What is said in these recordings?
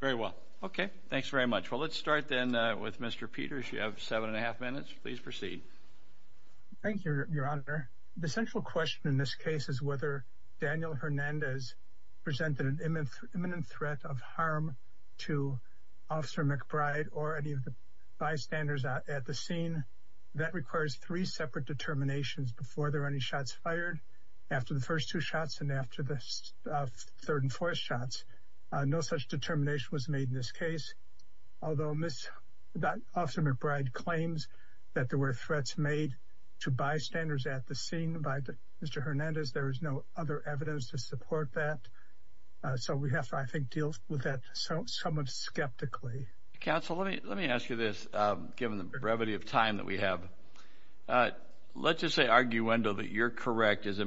very well okay thanks very much well let's start then with mr. Peters you have seven and a half minutes please proceed thank you your honor the central question in this case is whether Daniel Hernandez presented an imminent threat of harm to officer McBride or any of the bystanders at the scene that requires three separate determinations before there are any shots fired after the determination was made in this case although miss that officer McBride claims that there were threats made to bystanders at the scene by mr. Hernandez there is no other evidence to support that so we have to I think deal with that so someone's skeptically counsel let me let me ask you this given the brevity of time that we have let's just say arguendo that you're correct as a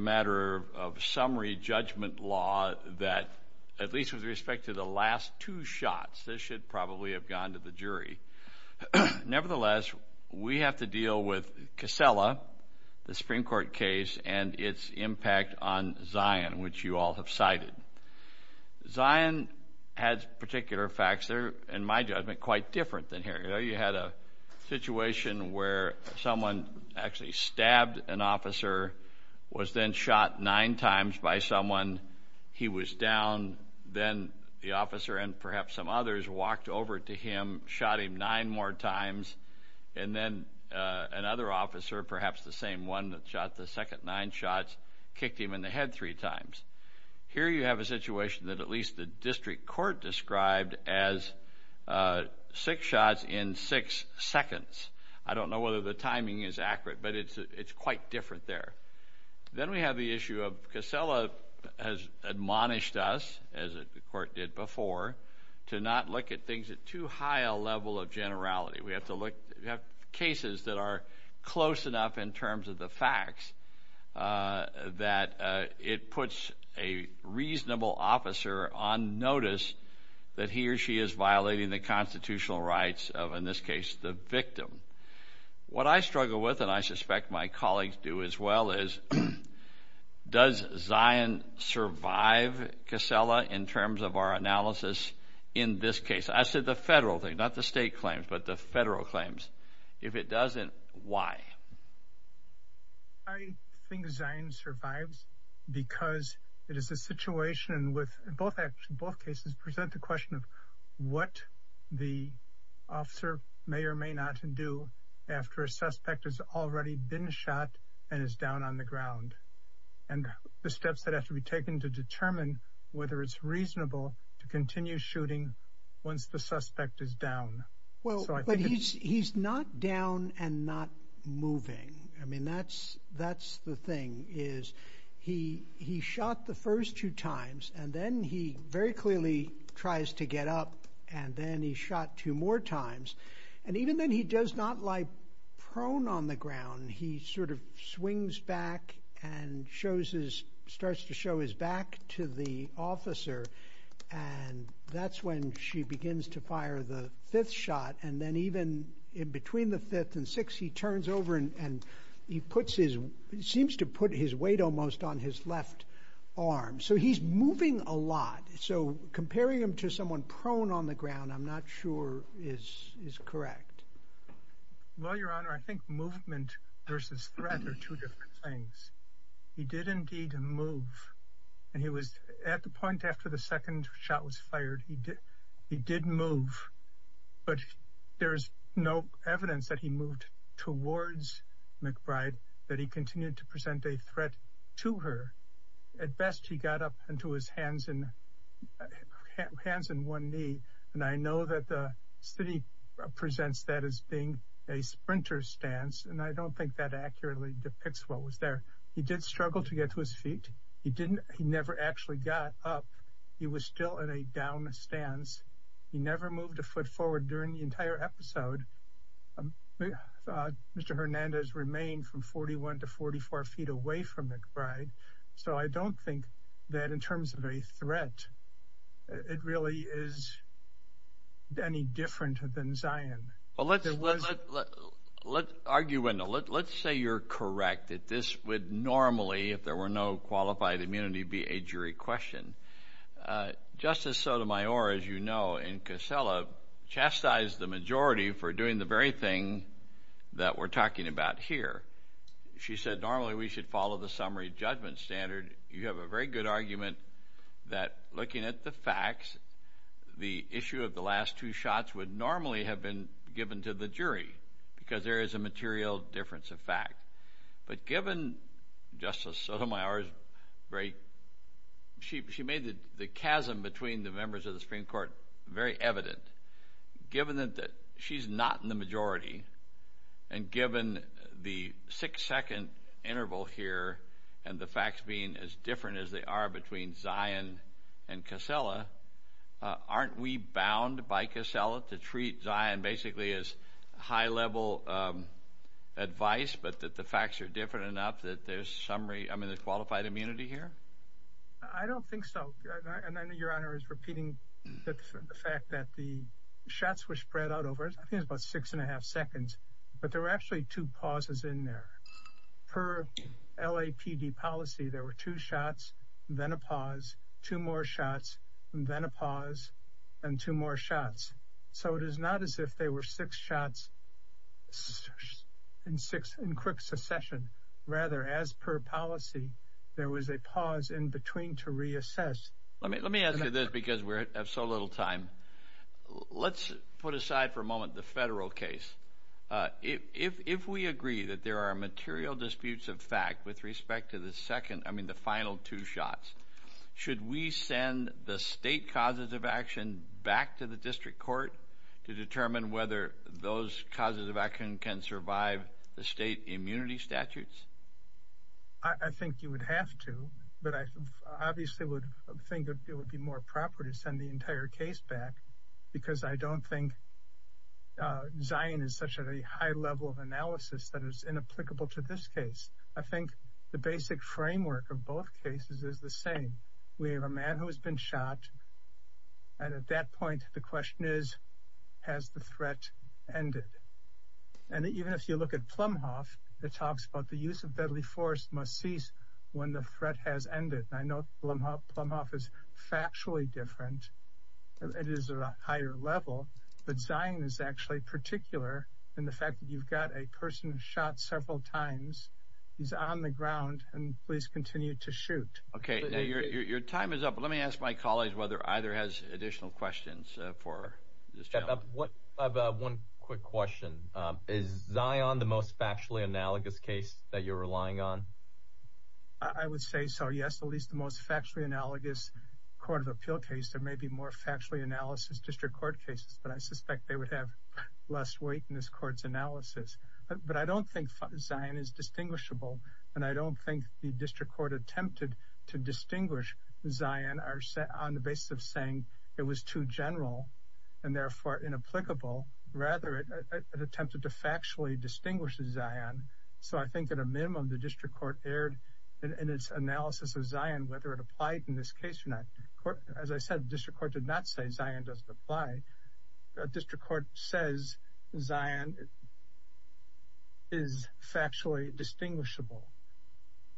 two shots this should probably have gone to the jury nevertheless we have to deal with Casella the Supreme Court case and its impact on Zion which you all have cited Zion has particular facts there and my judgment quite different than here you know you had a situation where someone actually stabbed an perhaps some others walked over to him shot him nine more times and then another officer perhaps the same one that shot the second nine shots kicked him in the head three times here you have a situation that at least the district court described as six shots in six seconds I don't know whether the timing is accurate but it's it's quite different there then we have the issue of Casella has admonished us as a court did before to not look at things at too high a level of generality we have to look at cases that are close enough in terms of the facts that it puts a reasonable officer on notice that he or she is violating the constitutional rights of in this case the victim what I does Zion survive Casella in terms of our analysis in this case I said the federal thing not the state claims but the federal claims if it doesn't why I think Zion survives because it is a situation with both actually both cases present the question of what the officer may or may not do after a suspect has already been shot and is down on the ground and the steps that have to be taken to determine whether it's reasonable to continue shooting once the suspect is down well but he's he's not down and not moving I mean that's that's the thing is he he shot the first two times and then he very clearly tries to get up and then he shot two more times and even then he does not like prone on the ground he sort of swings back and shows his starts to show his back to the officer and that's when she begins to fire the fifth shot and then even in between the fifth and six he turns over and he puts his seems to put his weight almost on his left arm so he's moving a lot so comparing him to someone prone on the ground I'm not sure is is correct well your honor I think movement versus threat are two different things he did indeed move and he was at the point after the second shot was fired he did he did move but there's no evidence that he moved towards McBride that he continued to present a threat to her at he got up into his hands and hands in one knee and I know that the city presents that as being a sprinter stance and I don't think that accurately depicts what was there he did struggle to get to his feet he didn't he never actually got up he was still in a down stance he never moved a foot forward during the entire episode mr. Hernandez remained from 41 to 44 feet away from McBride so I don't think that in terms of a threat it really is any different than Zion well let's let's argue window let's say you're correct that this would normally if there were no qualified immunity be a jury question justice Sotomayor as you know in Casella chastised the majority for doing the very thing that we're talking about here she said normally we should follow the summary judgment standard you have a very good argument that looking at the facts the issue of the last two shots would normally have been given to the jury because there is a material difference of fact but given justice Sotomayor's break she made the chasm between the members of the Supreme Court very evident given that she's not in the majority and given the six-second interval here and the facts being as different as they are between Zion and Casella aren't we bound by Casella to treat Zion basically as high-level advice but that the facts are different enough that there's summary I'm in the qualified immunity here I don't think so and I know your honor is repeating the fact that the shots were spread out over it's about six and a half seconds but there were actually two pauses in there per LAPD policy there were two shots then a pause two more shots and then a pause and two more shots so it is not as if they were six shots in six in quick succession rather as per policy there was a pause in between to reassess let me let me ask you this because we have so little time let's put aside for a moment the federal case if we agree that there are material disputes of fact with respect to the second I mean the final two shots should we send the state causes of action back to the district court to determine whether those causes of action can survive the state immunity statutes I think you would have to but I obviously would think it would be more proper to send the entire case back because I don't think Zion is such a high level of analysis that is inapplicable to this case I think the basic framework of both cases is the same we have a man who has been shot and at that point the question is has the threat ended and even if you look at Plumhoff that talks about the use of deadly force must cease when the threat has ended I know Plumhoff is factually different it is a higher level but Zion is actually particular in the fact that you've got a person shot several times he's on the ground and please continue to shoot okay your time is up let me ask my colleagues whether either has additional questions for what I've got one quick question is Zion the most factually analogous case that you're yes at least the most factually analogous Court of Appeal case there may be more factually analysis district court cases but I suspect they would have less weight in this courts analysis but I don't think Zion is distinguishable and I don't think the district court attempted to distinguish Zion are set on the basis of saying it was too general and therefore inapplicable rather it attempted to factually distinguish the Zion so I think at a minimum the district court erred in its analysis of Zion whether it applied in this case or not court as I said district court did not say Zion doesn't apply district court says Zion is factually distinguishable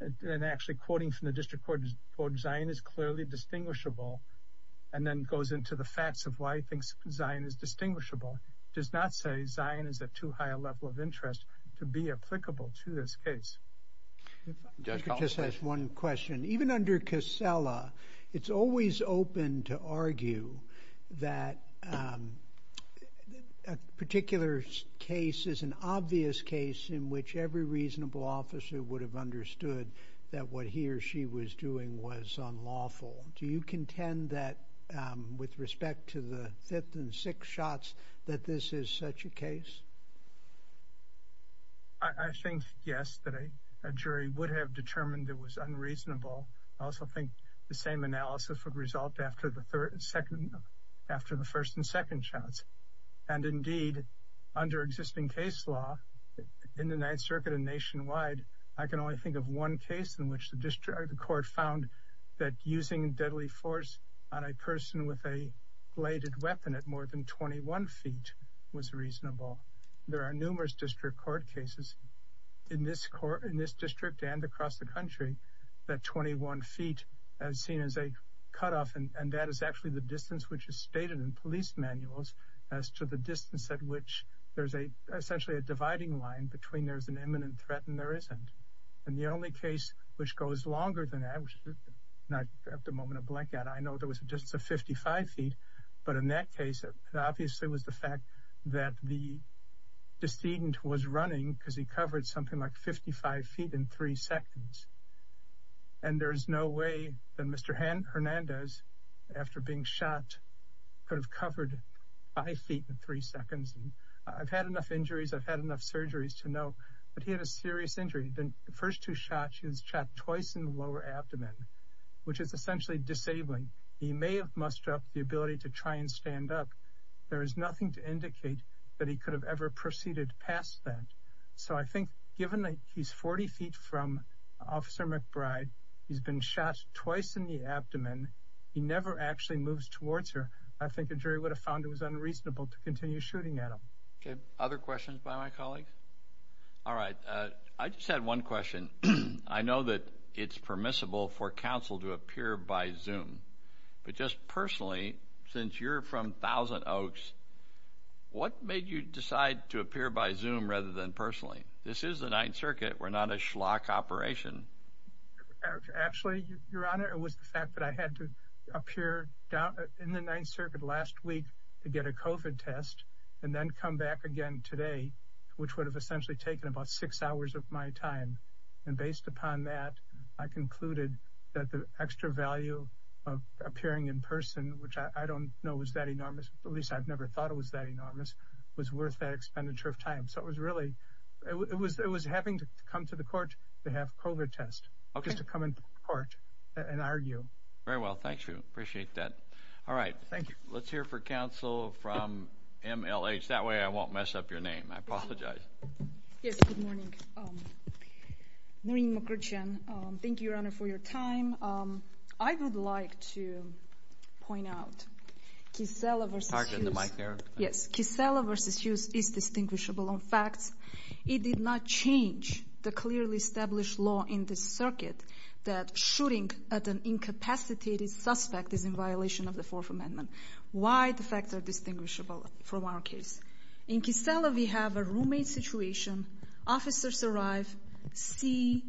and actually quoting from the district court vote Zion is clearly distinguishable and then goes into the facts of why he thinks Zion is distinguishable does not say Zion is at too high a level of interest to be applicable to this case just one question even under Casella it's always open to argue that a particular case is an obvious case in which every reasonable officer would have understood that what he or she was doing was unlawful do you contend that with I think yes that a jury would have determined it was unreasonable I also think the same analysis would result after the third and second after the first and second chance and indeed under existing case law in the Ninth Circuit and nationwide I can only think of one case in which the district court found that using deadly force on a person with a bladed weapon at more than 21 feet was reasonable there are numerous district court cases in this court in this district and across the country that 21 feet as seen as a cut off and that is actually the distance which is stated in police manuals as to the distance at which there's a essentially a dividing line between there's an imminent threat and there isn't and the only case which goes longer than average not at the moment of blackout I know there was a distance of 55 feet but in that case it obviously was the fact that the decedent was running because he covered something like 55 feet in three seconds and there is no way that mr. hand Hernandez after being shot could have covered five feet in three seconds I've had enough injuries I've had enough surgeries to know but he had a serious injury then the first two shots he was shot twice in the lower abdomen which is there is nothing to indicate that he could have ever proceeded past that so I think given that he's 40 feet from officer McBride he's been shot twice in the abdomen he never actually moves towards her I think injury would have found it was unreasonable to continue shooting at him okay other questions by my colleagues all right I just had one question I know that it's permissible for counsel to appear by zoom but just personally since you're from Thousand Oaks what made you decide to appear by zoom rather than personally this is the Ninth Circuit we're not a schlock operation actually your honor it was the fact that I had to appear down in the Ninth Circuit last week to get a COVID test and then come back again today which would have essentially taken about six hours of my time and based upon that I concluded that the extra value of I've never thought it was that enormous was worth that expenditure of time so it was really it was it was having to come to the court to have COVID test okay to come in court and argue very well thank you appreciate that all right thank you let's hear for counsel from MLH that way I won't mess up your name I would like to point out yes Kisela versus Hughes is distinguishable on facts it did not change the clearly established law in this circuit that shooting at an incapacitated suspect is in violation of the Fourth Amendment why the facts are distinguishable from our case in Kisela we have a roommate situation officers arrive see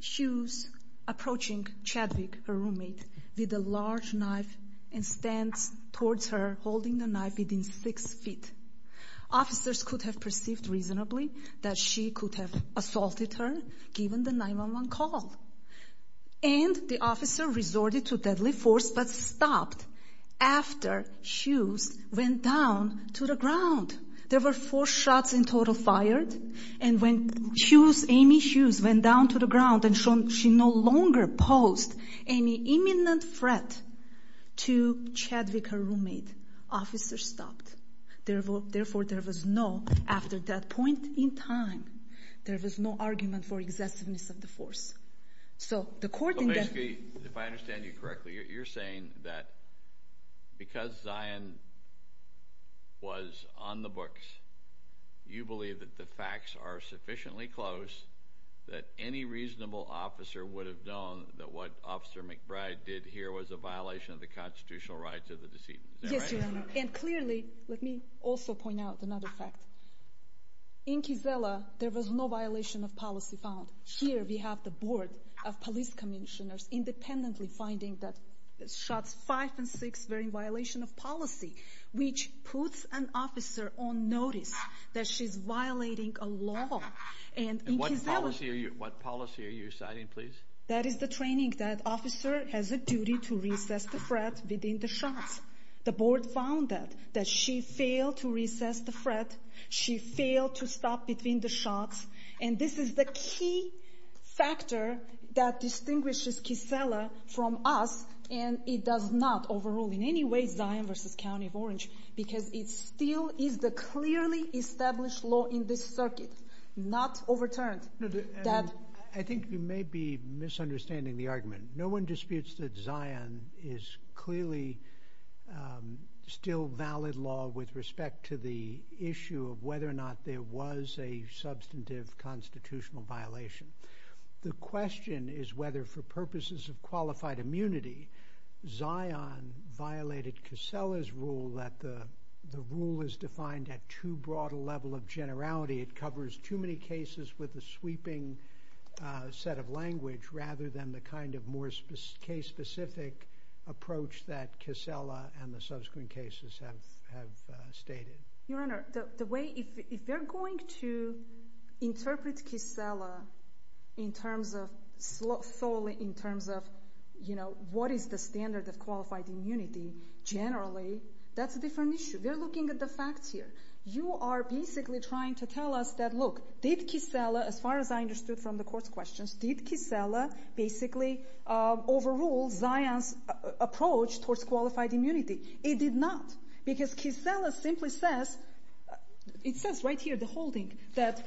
Hughes approaching Chadwick her roommate with a large knife and stands towards her holding the knife within six feet officers could have perceived reasonably that she could have assaulted her given the 911 call and the officer resorted to deadly force but stopped after Hughes went down to the ground and shown she no longer posed any imminent threat to Chadwick her roommate officer stopped therefore therefore there was no after that point in time there was no argument for excessiveness of the force so the court if I understand you correctly you're saying that because Zion was on the close that any reasonable officer would have known that what officer McBride did here was a violation of the constitutional rights of the decedent yes and clearly let me also point out another fact in Kisela there was no violation of policy found here we have the board of police commissioners independently finding that shots five and six very violation of policy which puts an officer on notice that she's violating a law and what policy are you citing please that is the training that officer has a duty to recess the threat within the shots the board found that that she failed to recess the threat she failed to stop between the shots and this is the key factor that distinguishes Kisela from us and it does not overrule in any way Zion versus County of Orange because it still is the clearly established law in this circuit not overturned I think you may be misunderstanding the argument no one disputes that Zion is clearly still valid law with respect to the issue of whether or not there was a substantive constitutional violation the question is whether for purposes of qualified immunity Zion violated Kisela's rule that the the rule is defined at too broad a level of generality it covers too many cases with a sweeping set of language rather than the kind of more case specific approach that Kisela and the subsequent cases have stated. Your in terms of you know what is the standard of qualified immunity generally that's a different issue they're looking at the facts here you are basically trying to tell us that look did Kisela as far as I understood from the court's questions did Kisela basically overrule Zion's approach towards qualified immunity it did not because Kisela simply says it says right here the holding that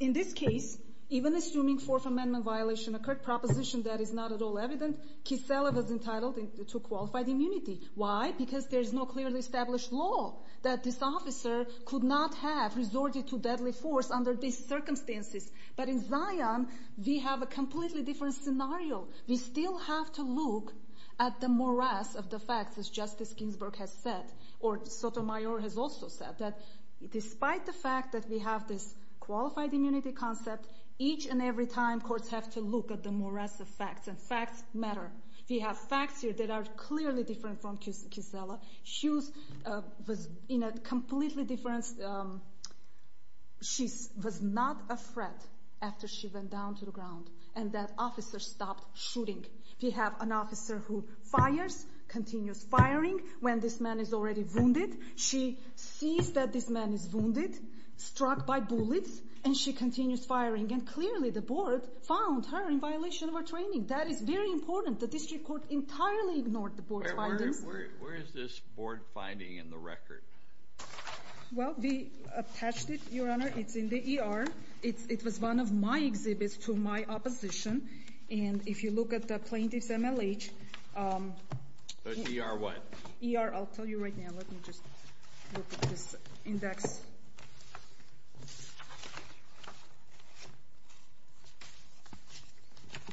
in this case even assuming fourth amendment violation occurred proposition that is not at all evident Kisela was entitled to qualified immunity why because there is no clearly established law that this officer could not have resorted to deadly force under these circumstances but in Zion we have a completely different scenario we still have to look at the morass of the facts as Justice Ginsburg has said or Sotomayor has also said that despite the fact that we have this qualified immunity concept each and every time courts have to look at the morass of facts and facts matter we have facts here that are clearly different from Kisela she was in a completely different she was not a threat after she went down to the ground and that officer stopped shooting we have an officer who fires continues firing when this man is already wounded she sees that this man is wounded struck by training that is very important the district court entirely ignored the board where is this board finding in the record well we attached it your honor it's in the ER it was one of my exhibits to my opposition and if you look at the plaintiffs MLH ER what ER I'll tell you right now let me just look at this index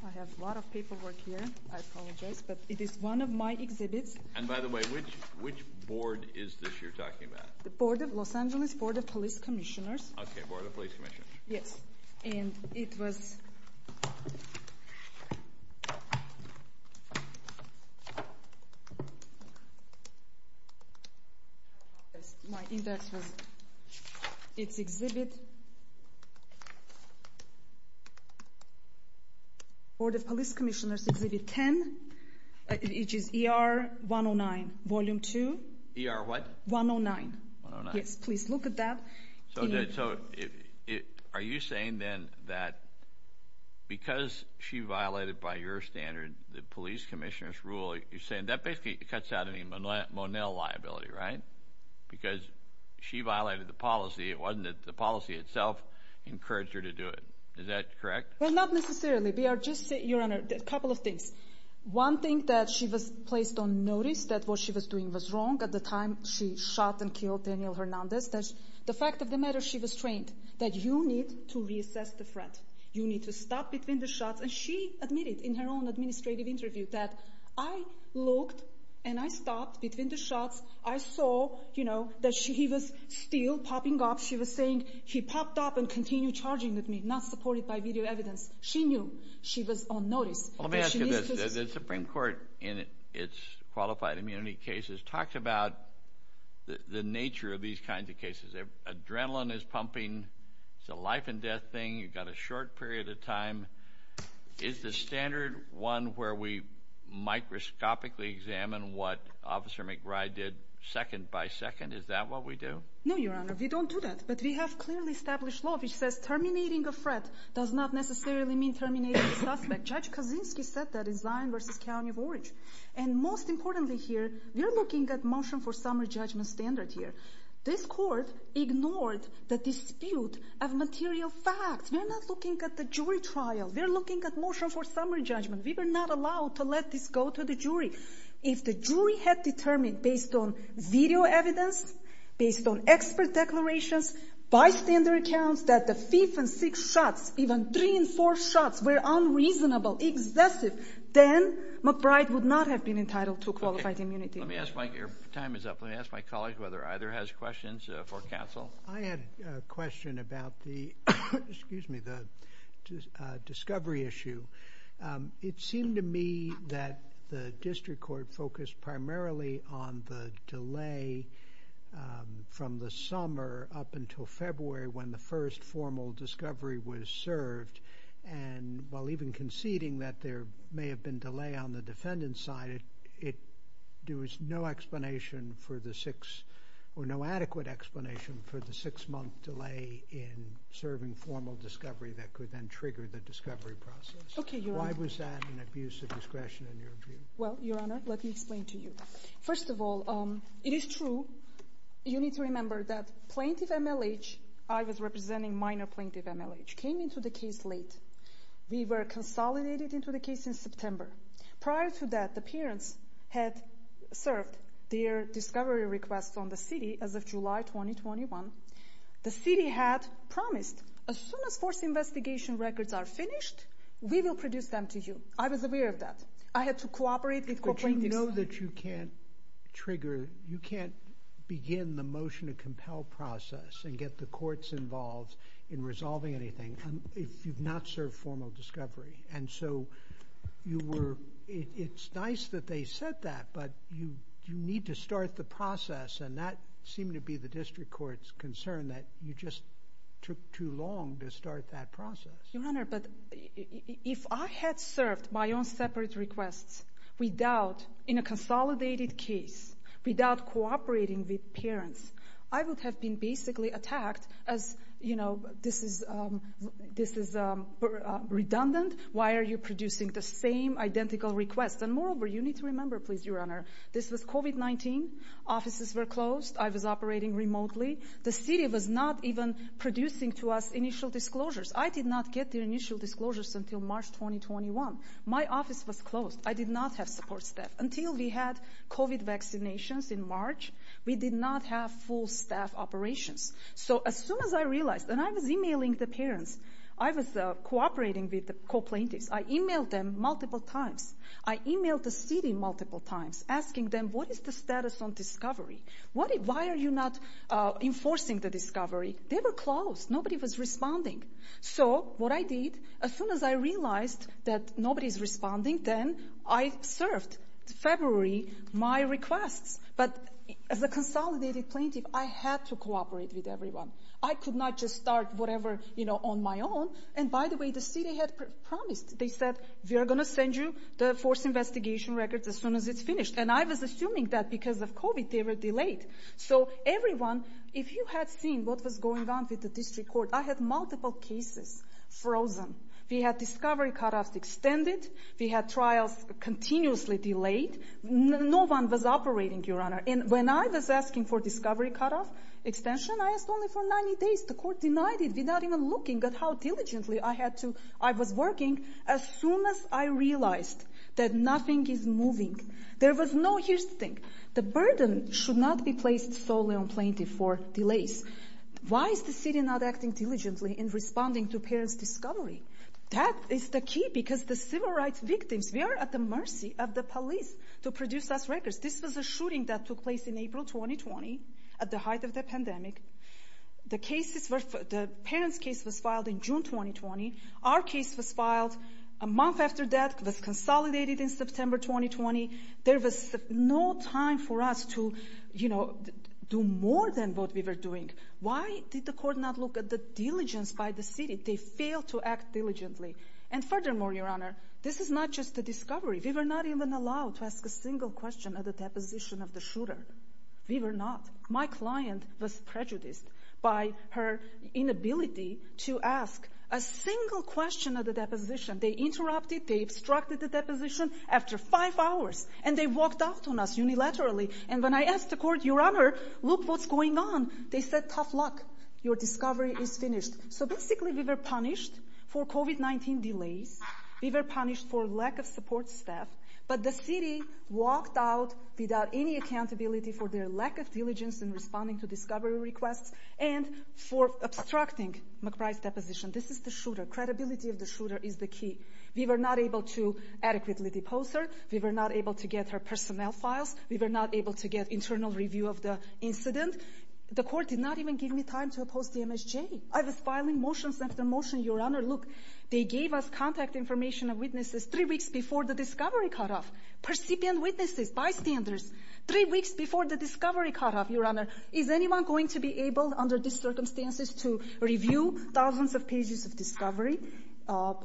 I have a lot of paperwork here I apologize but it is one of my exhibits and by the way which which board is this you're talking about the Board of Los Angeles Board of Police Commissioners okay for the police commission yes and it was my index was its exhibit or the police commissioners exhibit 10 it is er 109 volume 2 er what 109 yes please look at that so did so it are you saying then that because she violated by your standard the police commissioners rule you're saying that basically cuts out any monel liability right because she violated the policy it wasn't that the policy itself encouraged her to do it is that correct well not necessarily we are just your honor a couple of things one thing that she was placed on notice that what she was doing was wrong at the time she shot and killed Daniel Hernandez that's the fact of the matter she was that you need to reassess the front you need to stop between the shots and she admitted in her own administrative interview that I looked and I stopped between the shots I saw you know that she was still popping up she was saying he popped up and continue charging with me not supported by video evidence she knew she was on notice the Supreme Court in its qualified immunity cases talked about the nature of these kinds of cases adrenaline is pumping the life and death thing you've got a short period of time is the standard one where we microscopically examine what officer McBride did second by second is that what we do no you don't do that but we have clearly established law which says terminating a threat does not necessarily mean terminating suspect judge Kaczynski said that in Zion versus County of Orange and most importantly here you're looking at motion for summary judgment standard here this court ignored the dispute of material facts we're not looking at the jury trial they're looking at motion for summary judgment we were not allowed to let this go to the jury if the jury had determined based on video evidence based on expert declarations bystander accounts that the thief and six shots even three and four shots were unreasonable excessive then McBride would not have been entitled to qualified immunity let me ask Mike your time is up let me ask my colleagues whether either has questions for counsel I had a question about the excuse me the discovery issue it seemed to me that the district court focused primarily on the delay from the summer up until February when the first formal discovery was served and while even conceding that there may have been delay on the defendant's side it there was no explanation for the six or no adequate explanation for the six month delay in serving formal discovery that could then trigger the discovery process okay why was that an abuse of discretion in your view well your honor let me explain to you first of all um it is true you need to remember that plaintiff MLH I was representing minor plaintiff MLH came into the case late we were consolidated into the case in September prior to that the parents had served their discovery requests on the city as of July 2021 the city had promised as soon as force investigation records are finished we will produce them to you I was aware of that I had to cooperate with you know that you can't trigger you can't begin the motion to compel process and get the courts involved in resolving anything if you've not served formal discovery and so you were it's nice that they said that but you you need to start the process and that seemed to be the district courts concern that you just took too long to start that process your honor but if I had served my own separate requests without in a consolidated case without cooperating with parents I would have been basically attacked as you know this is this is a redundant why are you producing the same identical requests and moreover you need to remember please your honor this was COVID-19 offices were closed I was operating remotely the city was not even producing to us initial disclosures I did not get the initial disclosures until March 2021 my office was closed I did not have support staff until we had COVID vaccinations in March we did not have full staff operations so as soon as I realized and I was emailing the parents I was cooperating with the complaint is I emailed them multiple times I emailed the city multiple times asking them what is the status on discovery what why are you not enforcing the discovery they were closed nobody was responding so what I did as soon as I realized that nobody's responding then I served February my requests but as a consolidated plaintiff I had to cooperate with everyone I could not just start whatever you know on my own and by the way the city had promised they said we are gonna send you the force investigation records as soon as it's finished and I was assuming that because of COVID they were delayed so everyone if you had seen what was going on with the district court I had multiple cases frozen we had discovery cutoff extended we had trials continuously delayed no one was operating your honor and when I was asking for discovery cutoff extension I asked only for 90 days the court denied it without even looking at how diligently I had to I was working as soon as I realized that nothing is moving there was no here's the thing the burden should not be placed solely on plaintiff for delays why is the city not acting diligently in responding to parents discovery that is the key because the civil rights victims we are at the mercy of the police to produce us records this was a shooting that took place in April 2020 at the height of the pandemic the cases were the parents case was filed in June 2020 our case was filed a month after death was consolidated in September 2020 there was no time for us to you know do more than what we were doing why did the court not look at the diligence by the city they failed to act diligently and furthermore your honor this is not just the discovery we were not even allowed to ask a single question at the deposition of the shooter we were not my client was prejudiced by her inability to ask a single question of the deposition they interrupted they obstructed the deposition after five hours and they walked out on us unilaterally and when I asked the court your honor look what's going on they said tough luck your discovery is finished so basically we were punished for COVID-19 delays we were punished for lack of support staff but the city walked out without any accountability for their lack of diligence in responding to discovery requests and for obstructing McBride's deposition this is the shooter credibility of the shooter is the key we were not able to adequately depose her we were not able to get her personnel files we were not able to get internal review of the incident the court did not even give me time to oppose the MSJ I was filing motions after motion your honor look they gave us contact information of witnesses three weeks before the discovery cutoff percipient witnesses bystanders three weeks before the discovery cutoff your honor is anyone going to be able under these circumstances to review thousands of pages of discovery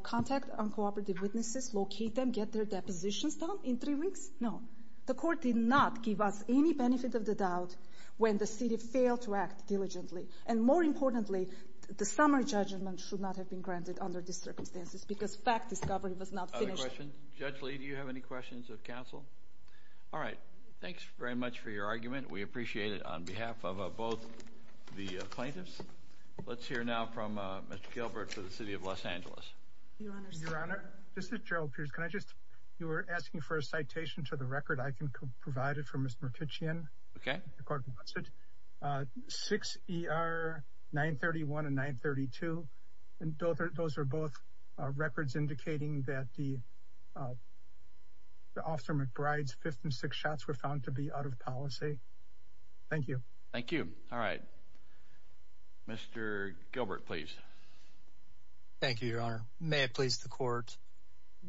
contact on cooperative witnesses locate them get their depositions done in three weeks no the court did not give us any benefit of the doubt when the city failed to act diligently and more importantly the summary judgment should not have been granted under these circumstances because fact discovery was not question judge Lee do you have any questions of counsel all right thanks very much for your argument we appreciate it on behalf of both the plaintiffs let's hear now from mr. Gilbert to the city of Los Angeles this is Gerald Pierce can I just you were asking for a citation to the record I can provide it for mr. Kitchian okay six er 931 and 932 and those are those are both records indicating that the the officer McBride's fifth and six shots were found to be out of policy thank you thank you all right mr. Gilbert please thank you your honor may it please the court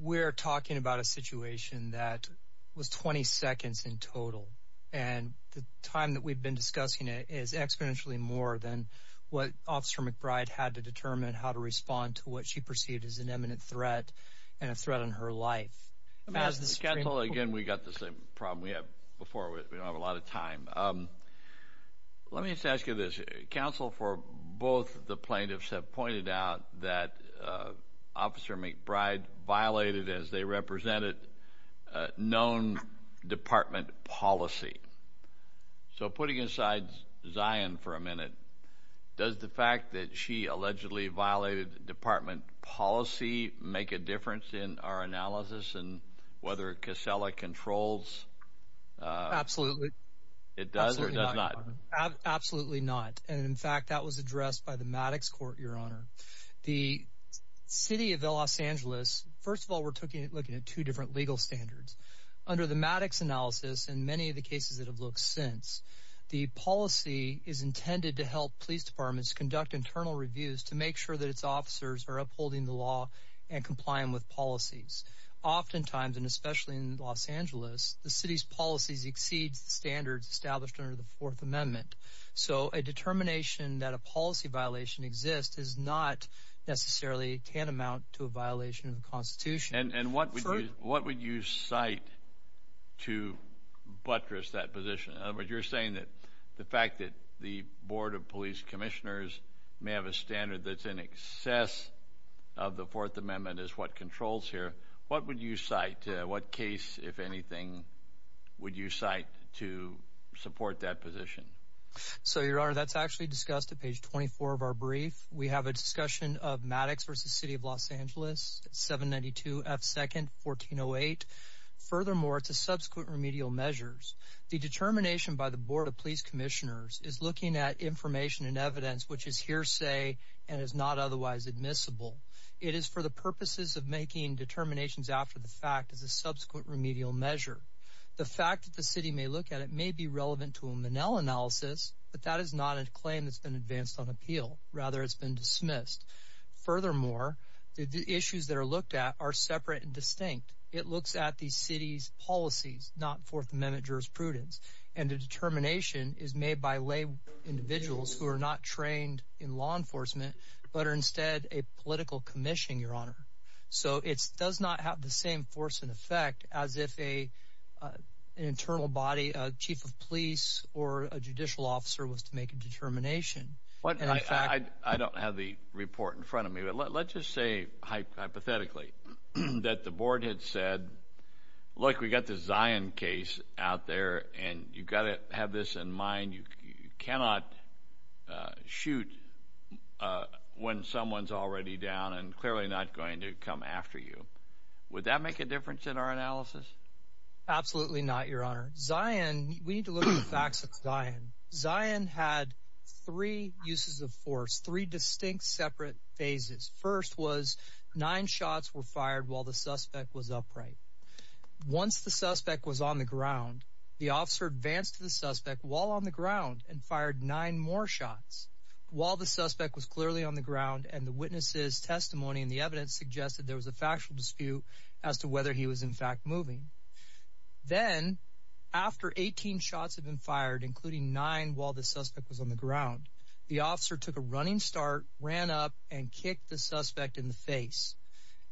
we're talking about a situation that was 20 seconds in total and the time that we've been discussing it is exponentially more than what officer McBride had to determine how to respond to what she perceived as an imminent threat and a threat on her life as the schedule again we got the same problem we have before we don't a lot of time let me just ask you this counsel for both the plaintiffs have pointed out that officer McBride violated as they represented known department policy so putting aside Zion for a minute does the fact that she allegedly violated department policy make a difference in our analysis and whether Kissela controls absolutely it does absolutely not and in fact that was addressed by the Maddox court your honor the city of Los Angeles first of all we're looking at looking at two different legal standards under the Maddox analysis and many of the cases that have looked since the policy is intended to help police departments conduct internal reviews to make sure that its officers are upholding the law and complying with policies oftentimes and especially in Los Angeles the city's policies exceeds standards established under the Fourth Amendment so a determination that a policy violation exists is not necessarily can amount to a violation of the Constitution and and what what would you cite to buttress that position of what you're saying that the fact that the Board of Police Commissioners may have a standard that's in excess of the Fourth Amendment is what controls here what would you cite what case if anything would you cite to support that position so your honor that's actually discussed at page 24 of our brief we have a discussion of Maddox versus City of Los Angeles 792 F second 1408 furthermore it's a subsequent remedial measures the determination by the Board of Police Commissioners is looking at information and evidence which is hearsay and is not after the fact is a subsequent remedial measure the fact that the city may look at it may be relevant to a manel analysis but that is not a claim that's been advanced on appeal rather it's been dismissed furthermore the issues that are looked at are separate and distinct it looks at these cities policies not Fourth Amendment jurisprudence and the determination is made by lay individuals who are not trained in law enforcement but are instead a political commission your honor so it's does not have the same force and effect as if a internal body chief of police or a judicial officer was to make a determination but I don't have the report in front of me but let's just say hypothetically that the board had said look we got the Zion case out there and you've got to have this in mind you cannot shoot when someone's already down and clearly not going to come after you would that make a difference in our analysis absolutely not your honor Zion we need to look at the facts of Zion Zion had three uses of force three distinct separate phases first was nine shots were fired while the suspect was upright once the suspect was on the ground the officer advanced to the suspect while on the ground and fired nine more shots while the suspect was clearly on the ground and the witnesses testimony and the evidence suggested there was a factual dispute as to whether he was in fact moving then after 18 shots have been fired including nine while the suspect was on the ground the officer took a running start ran up and kicked the suspect in the face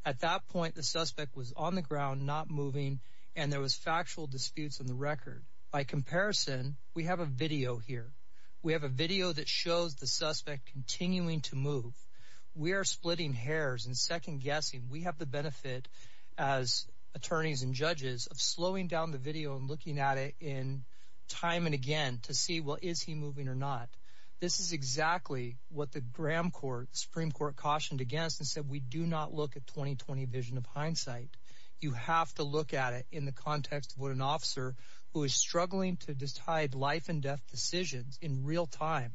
at that point the suspect was on the ground not moving and there was factual disputes on the record by comparison we have a video here we have a video that shows the suspect continuing to move we are splitting hairs and second-guessing we have the benefit as attorneys and judges of slowing down the video and looking at it in time and again to see what is he moving or not this is exactly what the Graham Court Supreme Court cautioned against and said we do not look at 2020 vision of hindsight you have to look at it in the context of an officer who is struggling to decide life-and-death decisions in real time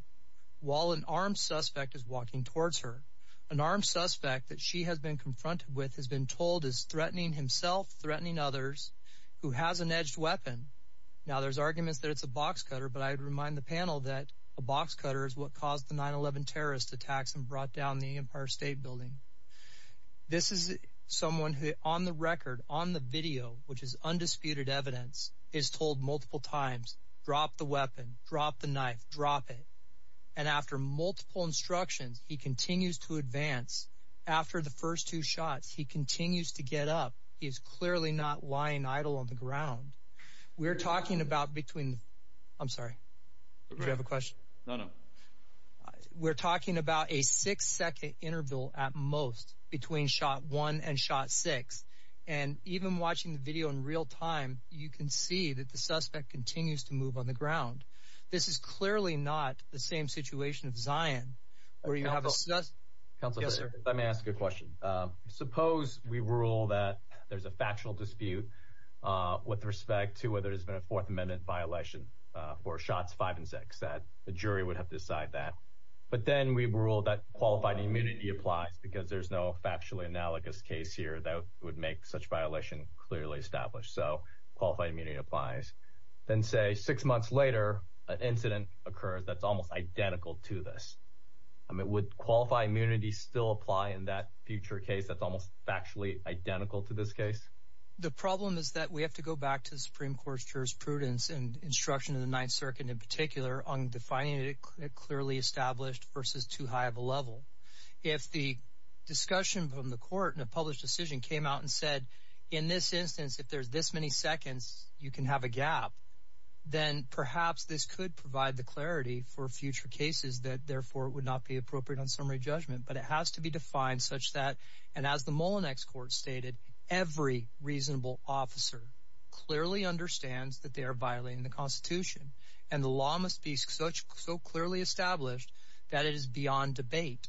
while an armed suspect is walking towards her an armed suspect that she has been confronted with has been told is threatening himself threatening others who has an edged weapon now there's arguments that it's a box cutter but I'd remind the panel that a box cutter is what caused the 9-11 terrorist attacks and brought down the Empire State Building this is someone who on the record on the video which is undisputed evidence is told multiple times drop the weapon drop the knife drop it and after multiple instructions he continues to advance after the first two shots he continues to get up he is clearly not lying idle on the ground we're talking about between I'm sorry you have a question no no we're talking about a six-second interval at most between shot one and shot six and even watching the video in real time you can see that the suspect continues to move on the ground this is clearly not the same situation of Zion where you have a suspect let me ask a question suppose we rule that there's a factual dispute with respect to whether there's been a Fourth Amendment violation for shots five and six that the jury would have decided that but then we rule that qualified immunity applies because there's no factually analogous case here that would make such violation clearly established so qualified immunity applies then say six months later an incident occurs that's almost identical to this I mean would qualify immunity still apply in that future case that's almost actually identical to this case the problem is that we have to go back to the Supreme Court's jurisprudence and instruction in the Ninth Circuit in particular on defining it clearly established versus too high of a level if the discussion from the court and a published decision came out and said in this instance if there's this many seconds you can have a gap then perhaps this could provide the clarity for future cases that therefore it would not be appropriate on summary judgment but it has to be defined such that and as the Mullinex Court stated every reasonable officer clearly understands that they are violating the Constitution and the that it is beyond debate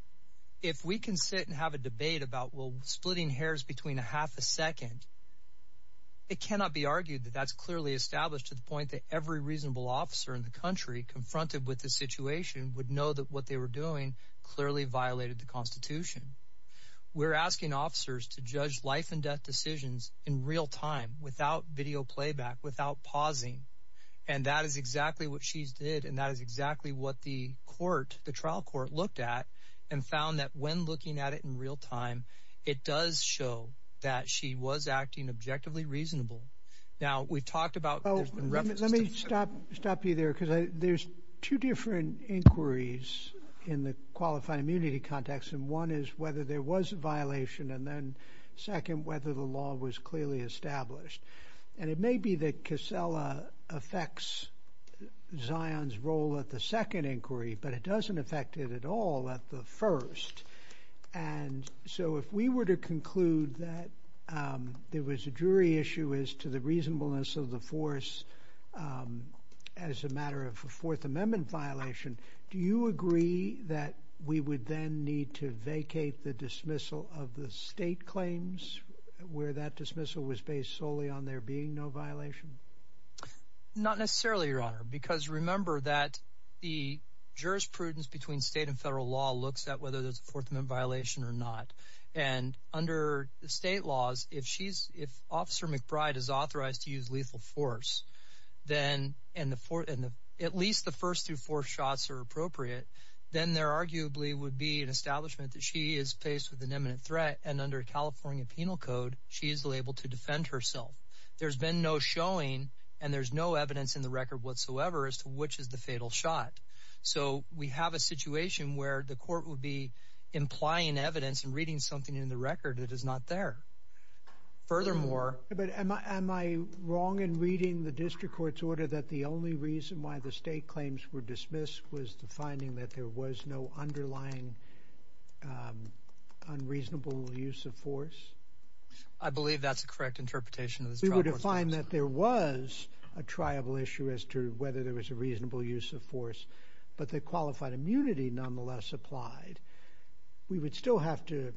if we can sit and have a debate about will splitting hairs between a half a second it cannot be argued that that's clearly established to the point that every reasonable officer in the country confronted with the situation would know that what they were doing clearly violated the Constitution we're asking officers to judge life and death decisions in real time without video playback without pausing and that is exactly what the court the trial court looked at and found that when looking at it in real time it does show that she was acting objectively reasonable now we talked about oh let me stop stop you there because there's two different inquiries in the qualified immunity context and one is whether there was a violation and then second whether the law was clearly established and it may be that Casella affects Zion's role at the second inquiry but it doesn't affect it at all at the first and so if we were to conclude that there was a jury issue as to the reasonableness of the force as a matter of a Fourth Amendment violation do you agree that we would then need to vacate the dismissal of the state claims where that dismissal was based solely on there being no violation not necessarily because remember that the jurisprudence between state and federal law looks at whether there's a Fourth Amendment violation or not and under the state laws if she's if Officer McBride is authorized to use lethal force then and at least the first through fourth shots are appropriate then there arguably would be an establishment that she is faced with an imminent threat and under California penal code she is able to defend herself there's been no showing and there's no evidence in the record whatsoever as to which is the fatal shot so we have a situation where the court would be implying evidence and reading something in the record that is not there furthermore but am I wrong in reading the district court's order that the only reason why the state claims were dismissed was the finding that there was no underlying unreasonable use of force I believe that's a correct interpretation of the find that there was a triable issue as to whether there was a reasonable use of force but the qualified immunity nonetheless applied we would still have to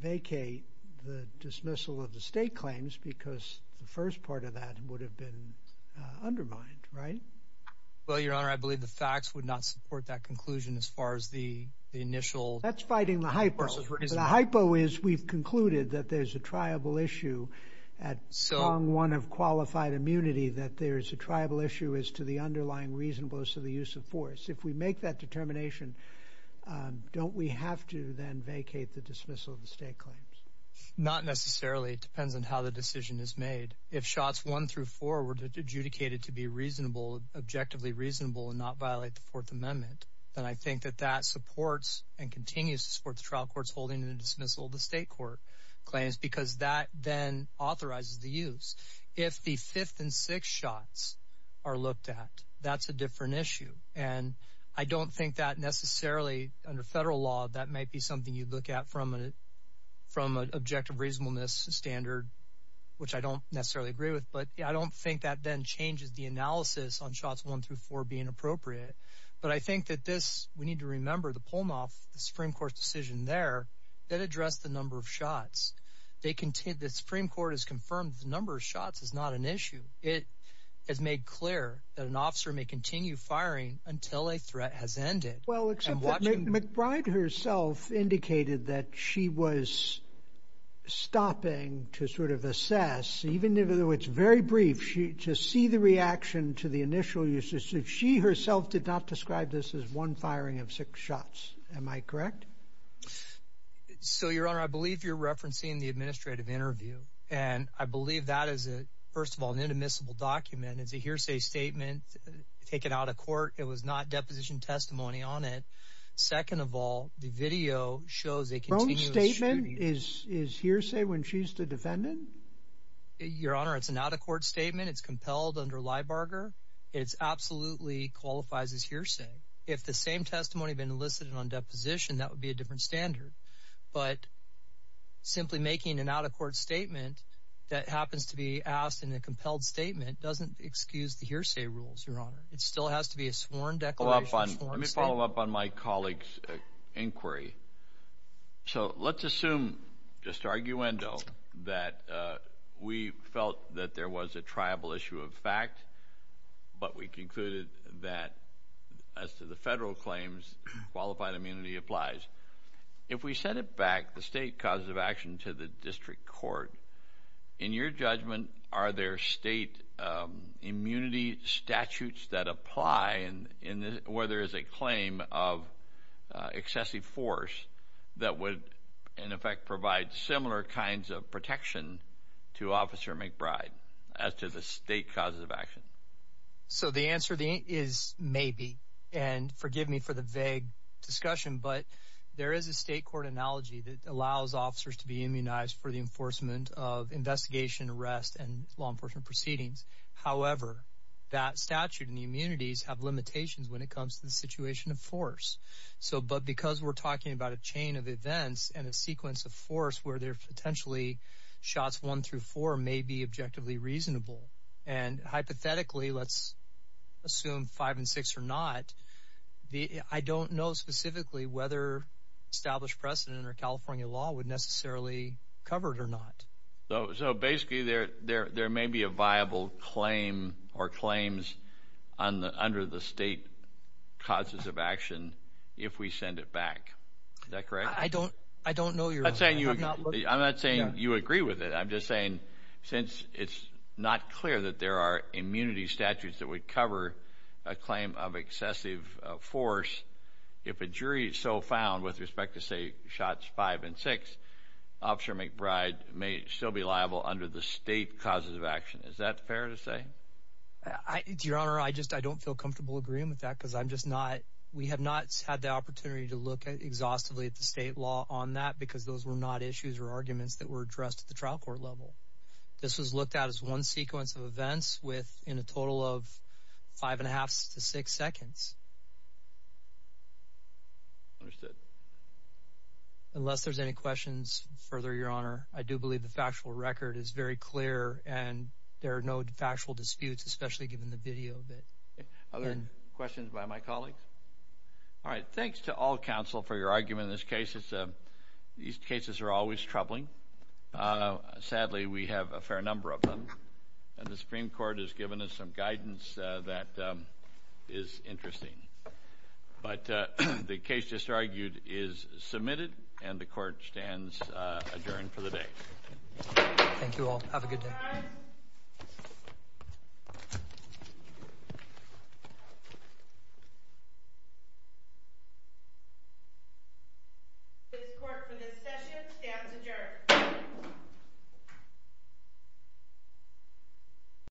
vacate the dismissal of the state claims because the first part of that would have been undermined right well your honor I believe the facts would not support that conclusion as far as the initial that's fighting the hype versus one of qualified immunity that there is a tribal issue as to the underlying reasonableness of the use of force if we make that determination don't we have to then vacate the dismissal of the state claims not necessarily it depends on how the decision is made if shots one through four were to adjudicated to be reasonable objectively reasonable and not violate the Fourth Amendment then I think that that supports and continues to support the trial courts holding in dismissal the state court claims because that then authorizes the use if the fifth and six shots are looked at that's a different issue and I don't think that necessarily under federal law that might be something you look at from it from an objective reasonableness standard which I don't necessarily agree with but I don't think that then changes the analysis on shots one through four being appropriate but I think that this we need to remember the pull them off the address the number of shots they contain the Supreme Court has confirmed the number of shots is not an issue it has made clear that an officer may continue firing until a threat has ended well except McBride herself indicated that she was stopping to sort of assess even though it's very brief she to see the reaction to the initial uses if she herself did not describe this as one so your honor I believe you're referencing the administrative interview and I believe that is it first of all an admissible document is a hearsay statement taken out of court it was not deposition testimony on it second of all the video shows a statement is hearsay when she's the defendant your honor it's an out-of-court statement it's compelled under lie Barger it's absolutely qualifies as hearsay if the same testimony been elicited on deposition that would be a different standard but simply making an out-of-court statement that happens to be asked in a compelled statement doesn't excuse the hearsay rules your honor it still has to be a sworn decal up on let me follow up on my colleagues inquiry so let's assume just argue endo that we felt that there was a tribal issue of fact but we concluded that as to the federal claims qualified immunity applies if we send it back the state cause of action to the district court in your judgment are there state immunity statutes that apply and in where there is a claim of excessive force that would in effect provide similar kinds of protection to officer McBride as to the state cause of action so the answer the is maybe and forgive me for the vague discussion but there is a state court analogy that allows officers to be immunized for the enforcement of investigation arrest and law enforcement proceedings however that statute and immunities have limitations when it comes to the situation of force so but because we're talking about a chain of events and a sequence of force where they're potentially shots one through four may be objectively reasonable and hypothetically let's assume five and six or not the I don't know specifically whether established precedent or California law would necessarily covered or not so so basically there there there may be a viable claim or claims on the under the state causes of action if we send it back that I don't I don't know you're saying you agree with it I'm just saying since it's not clear that there are immunity statutes that would cover a claim of excessive force if a jury so found with respect to say shots five and six officer McBride may still be liable under the state causes of action is that fair to say I just I don't feel comfortable agreeing with that because I'm just not we have not had the opportunity to look at exhaustively at the state law on that because those were not issues or arguments that were addressed at the trial court level this with in a total of five and a half to six seconds unless there's any questions further your honor I do believe the factual record is very clear and there are no factual disputes especially given the video questions by my colleague thanks to all counsel for your argument this case is that these cases are always troubling sadly we have a fair number of the Supreme Court has given us some guidance that is interesting but the case just argued is submitted and the court stands adjourned for the day you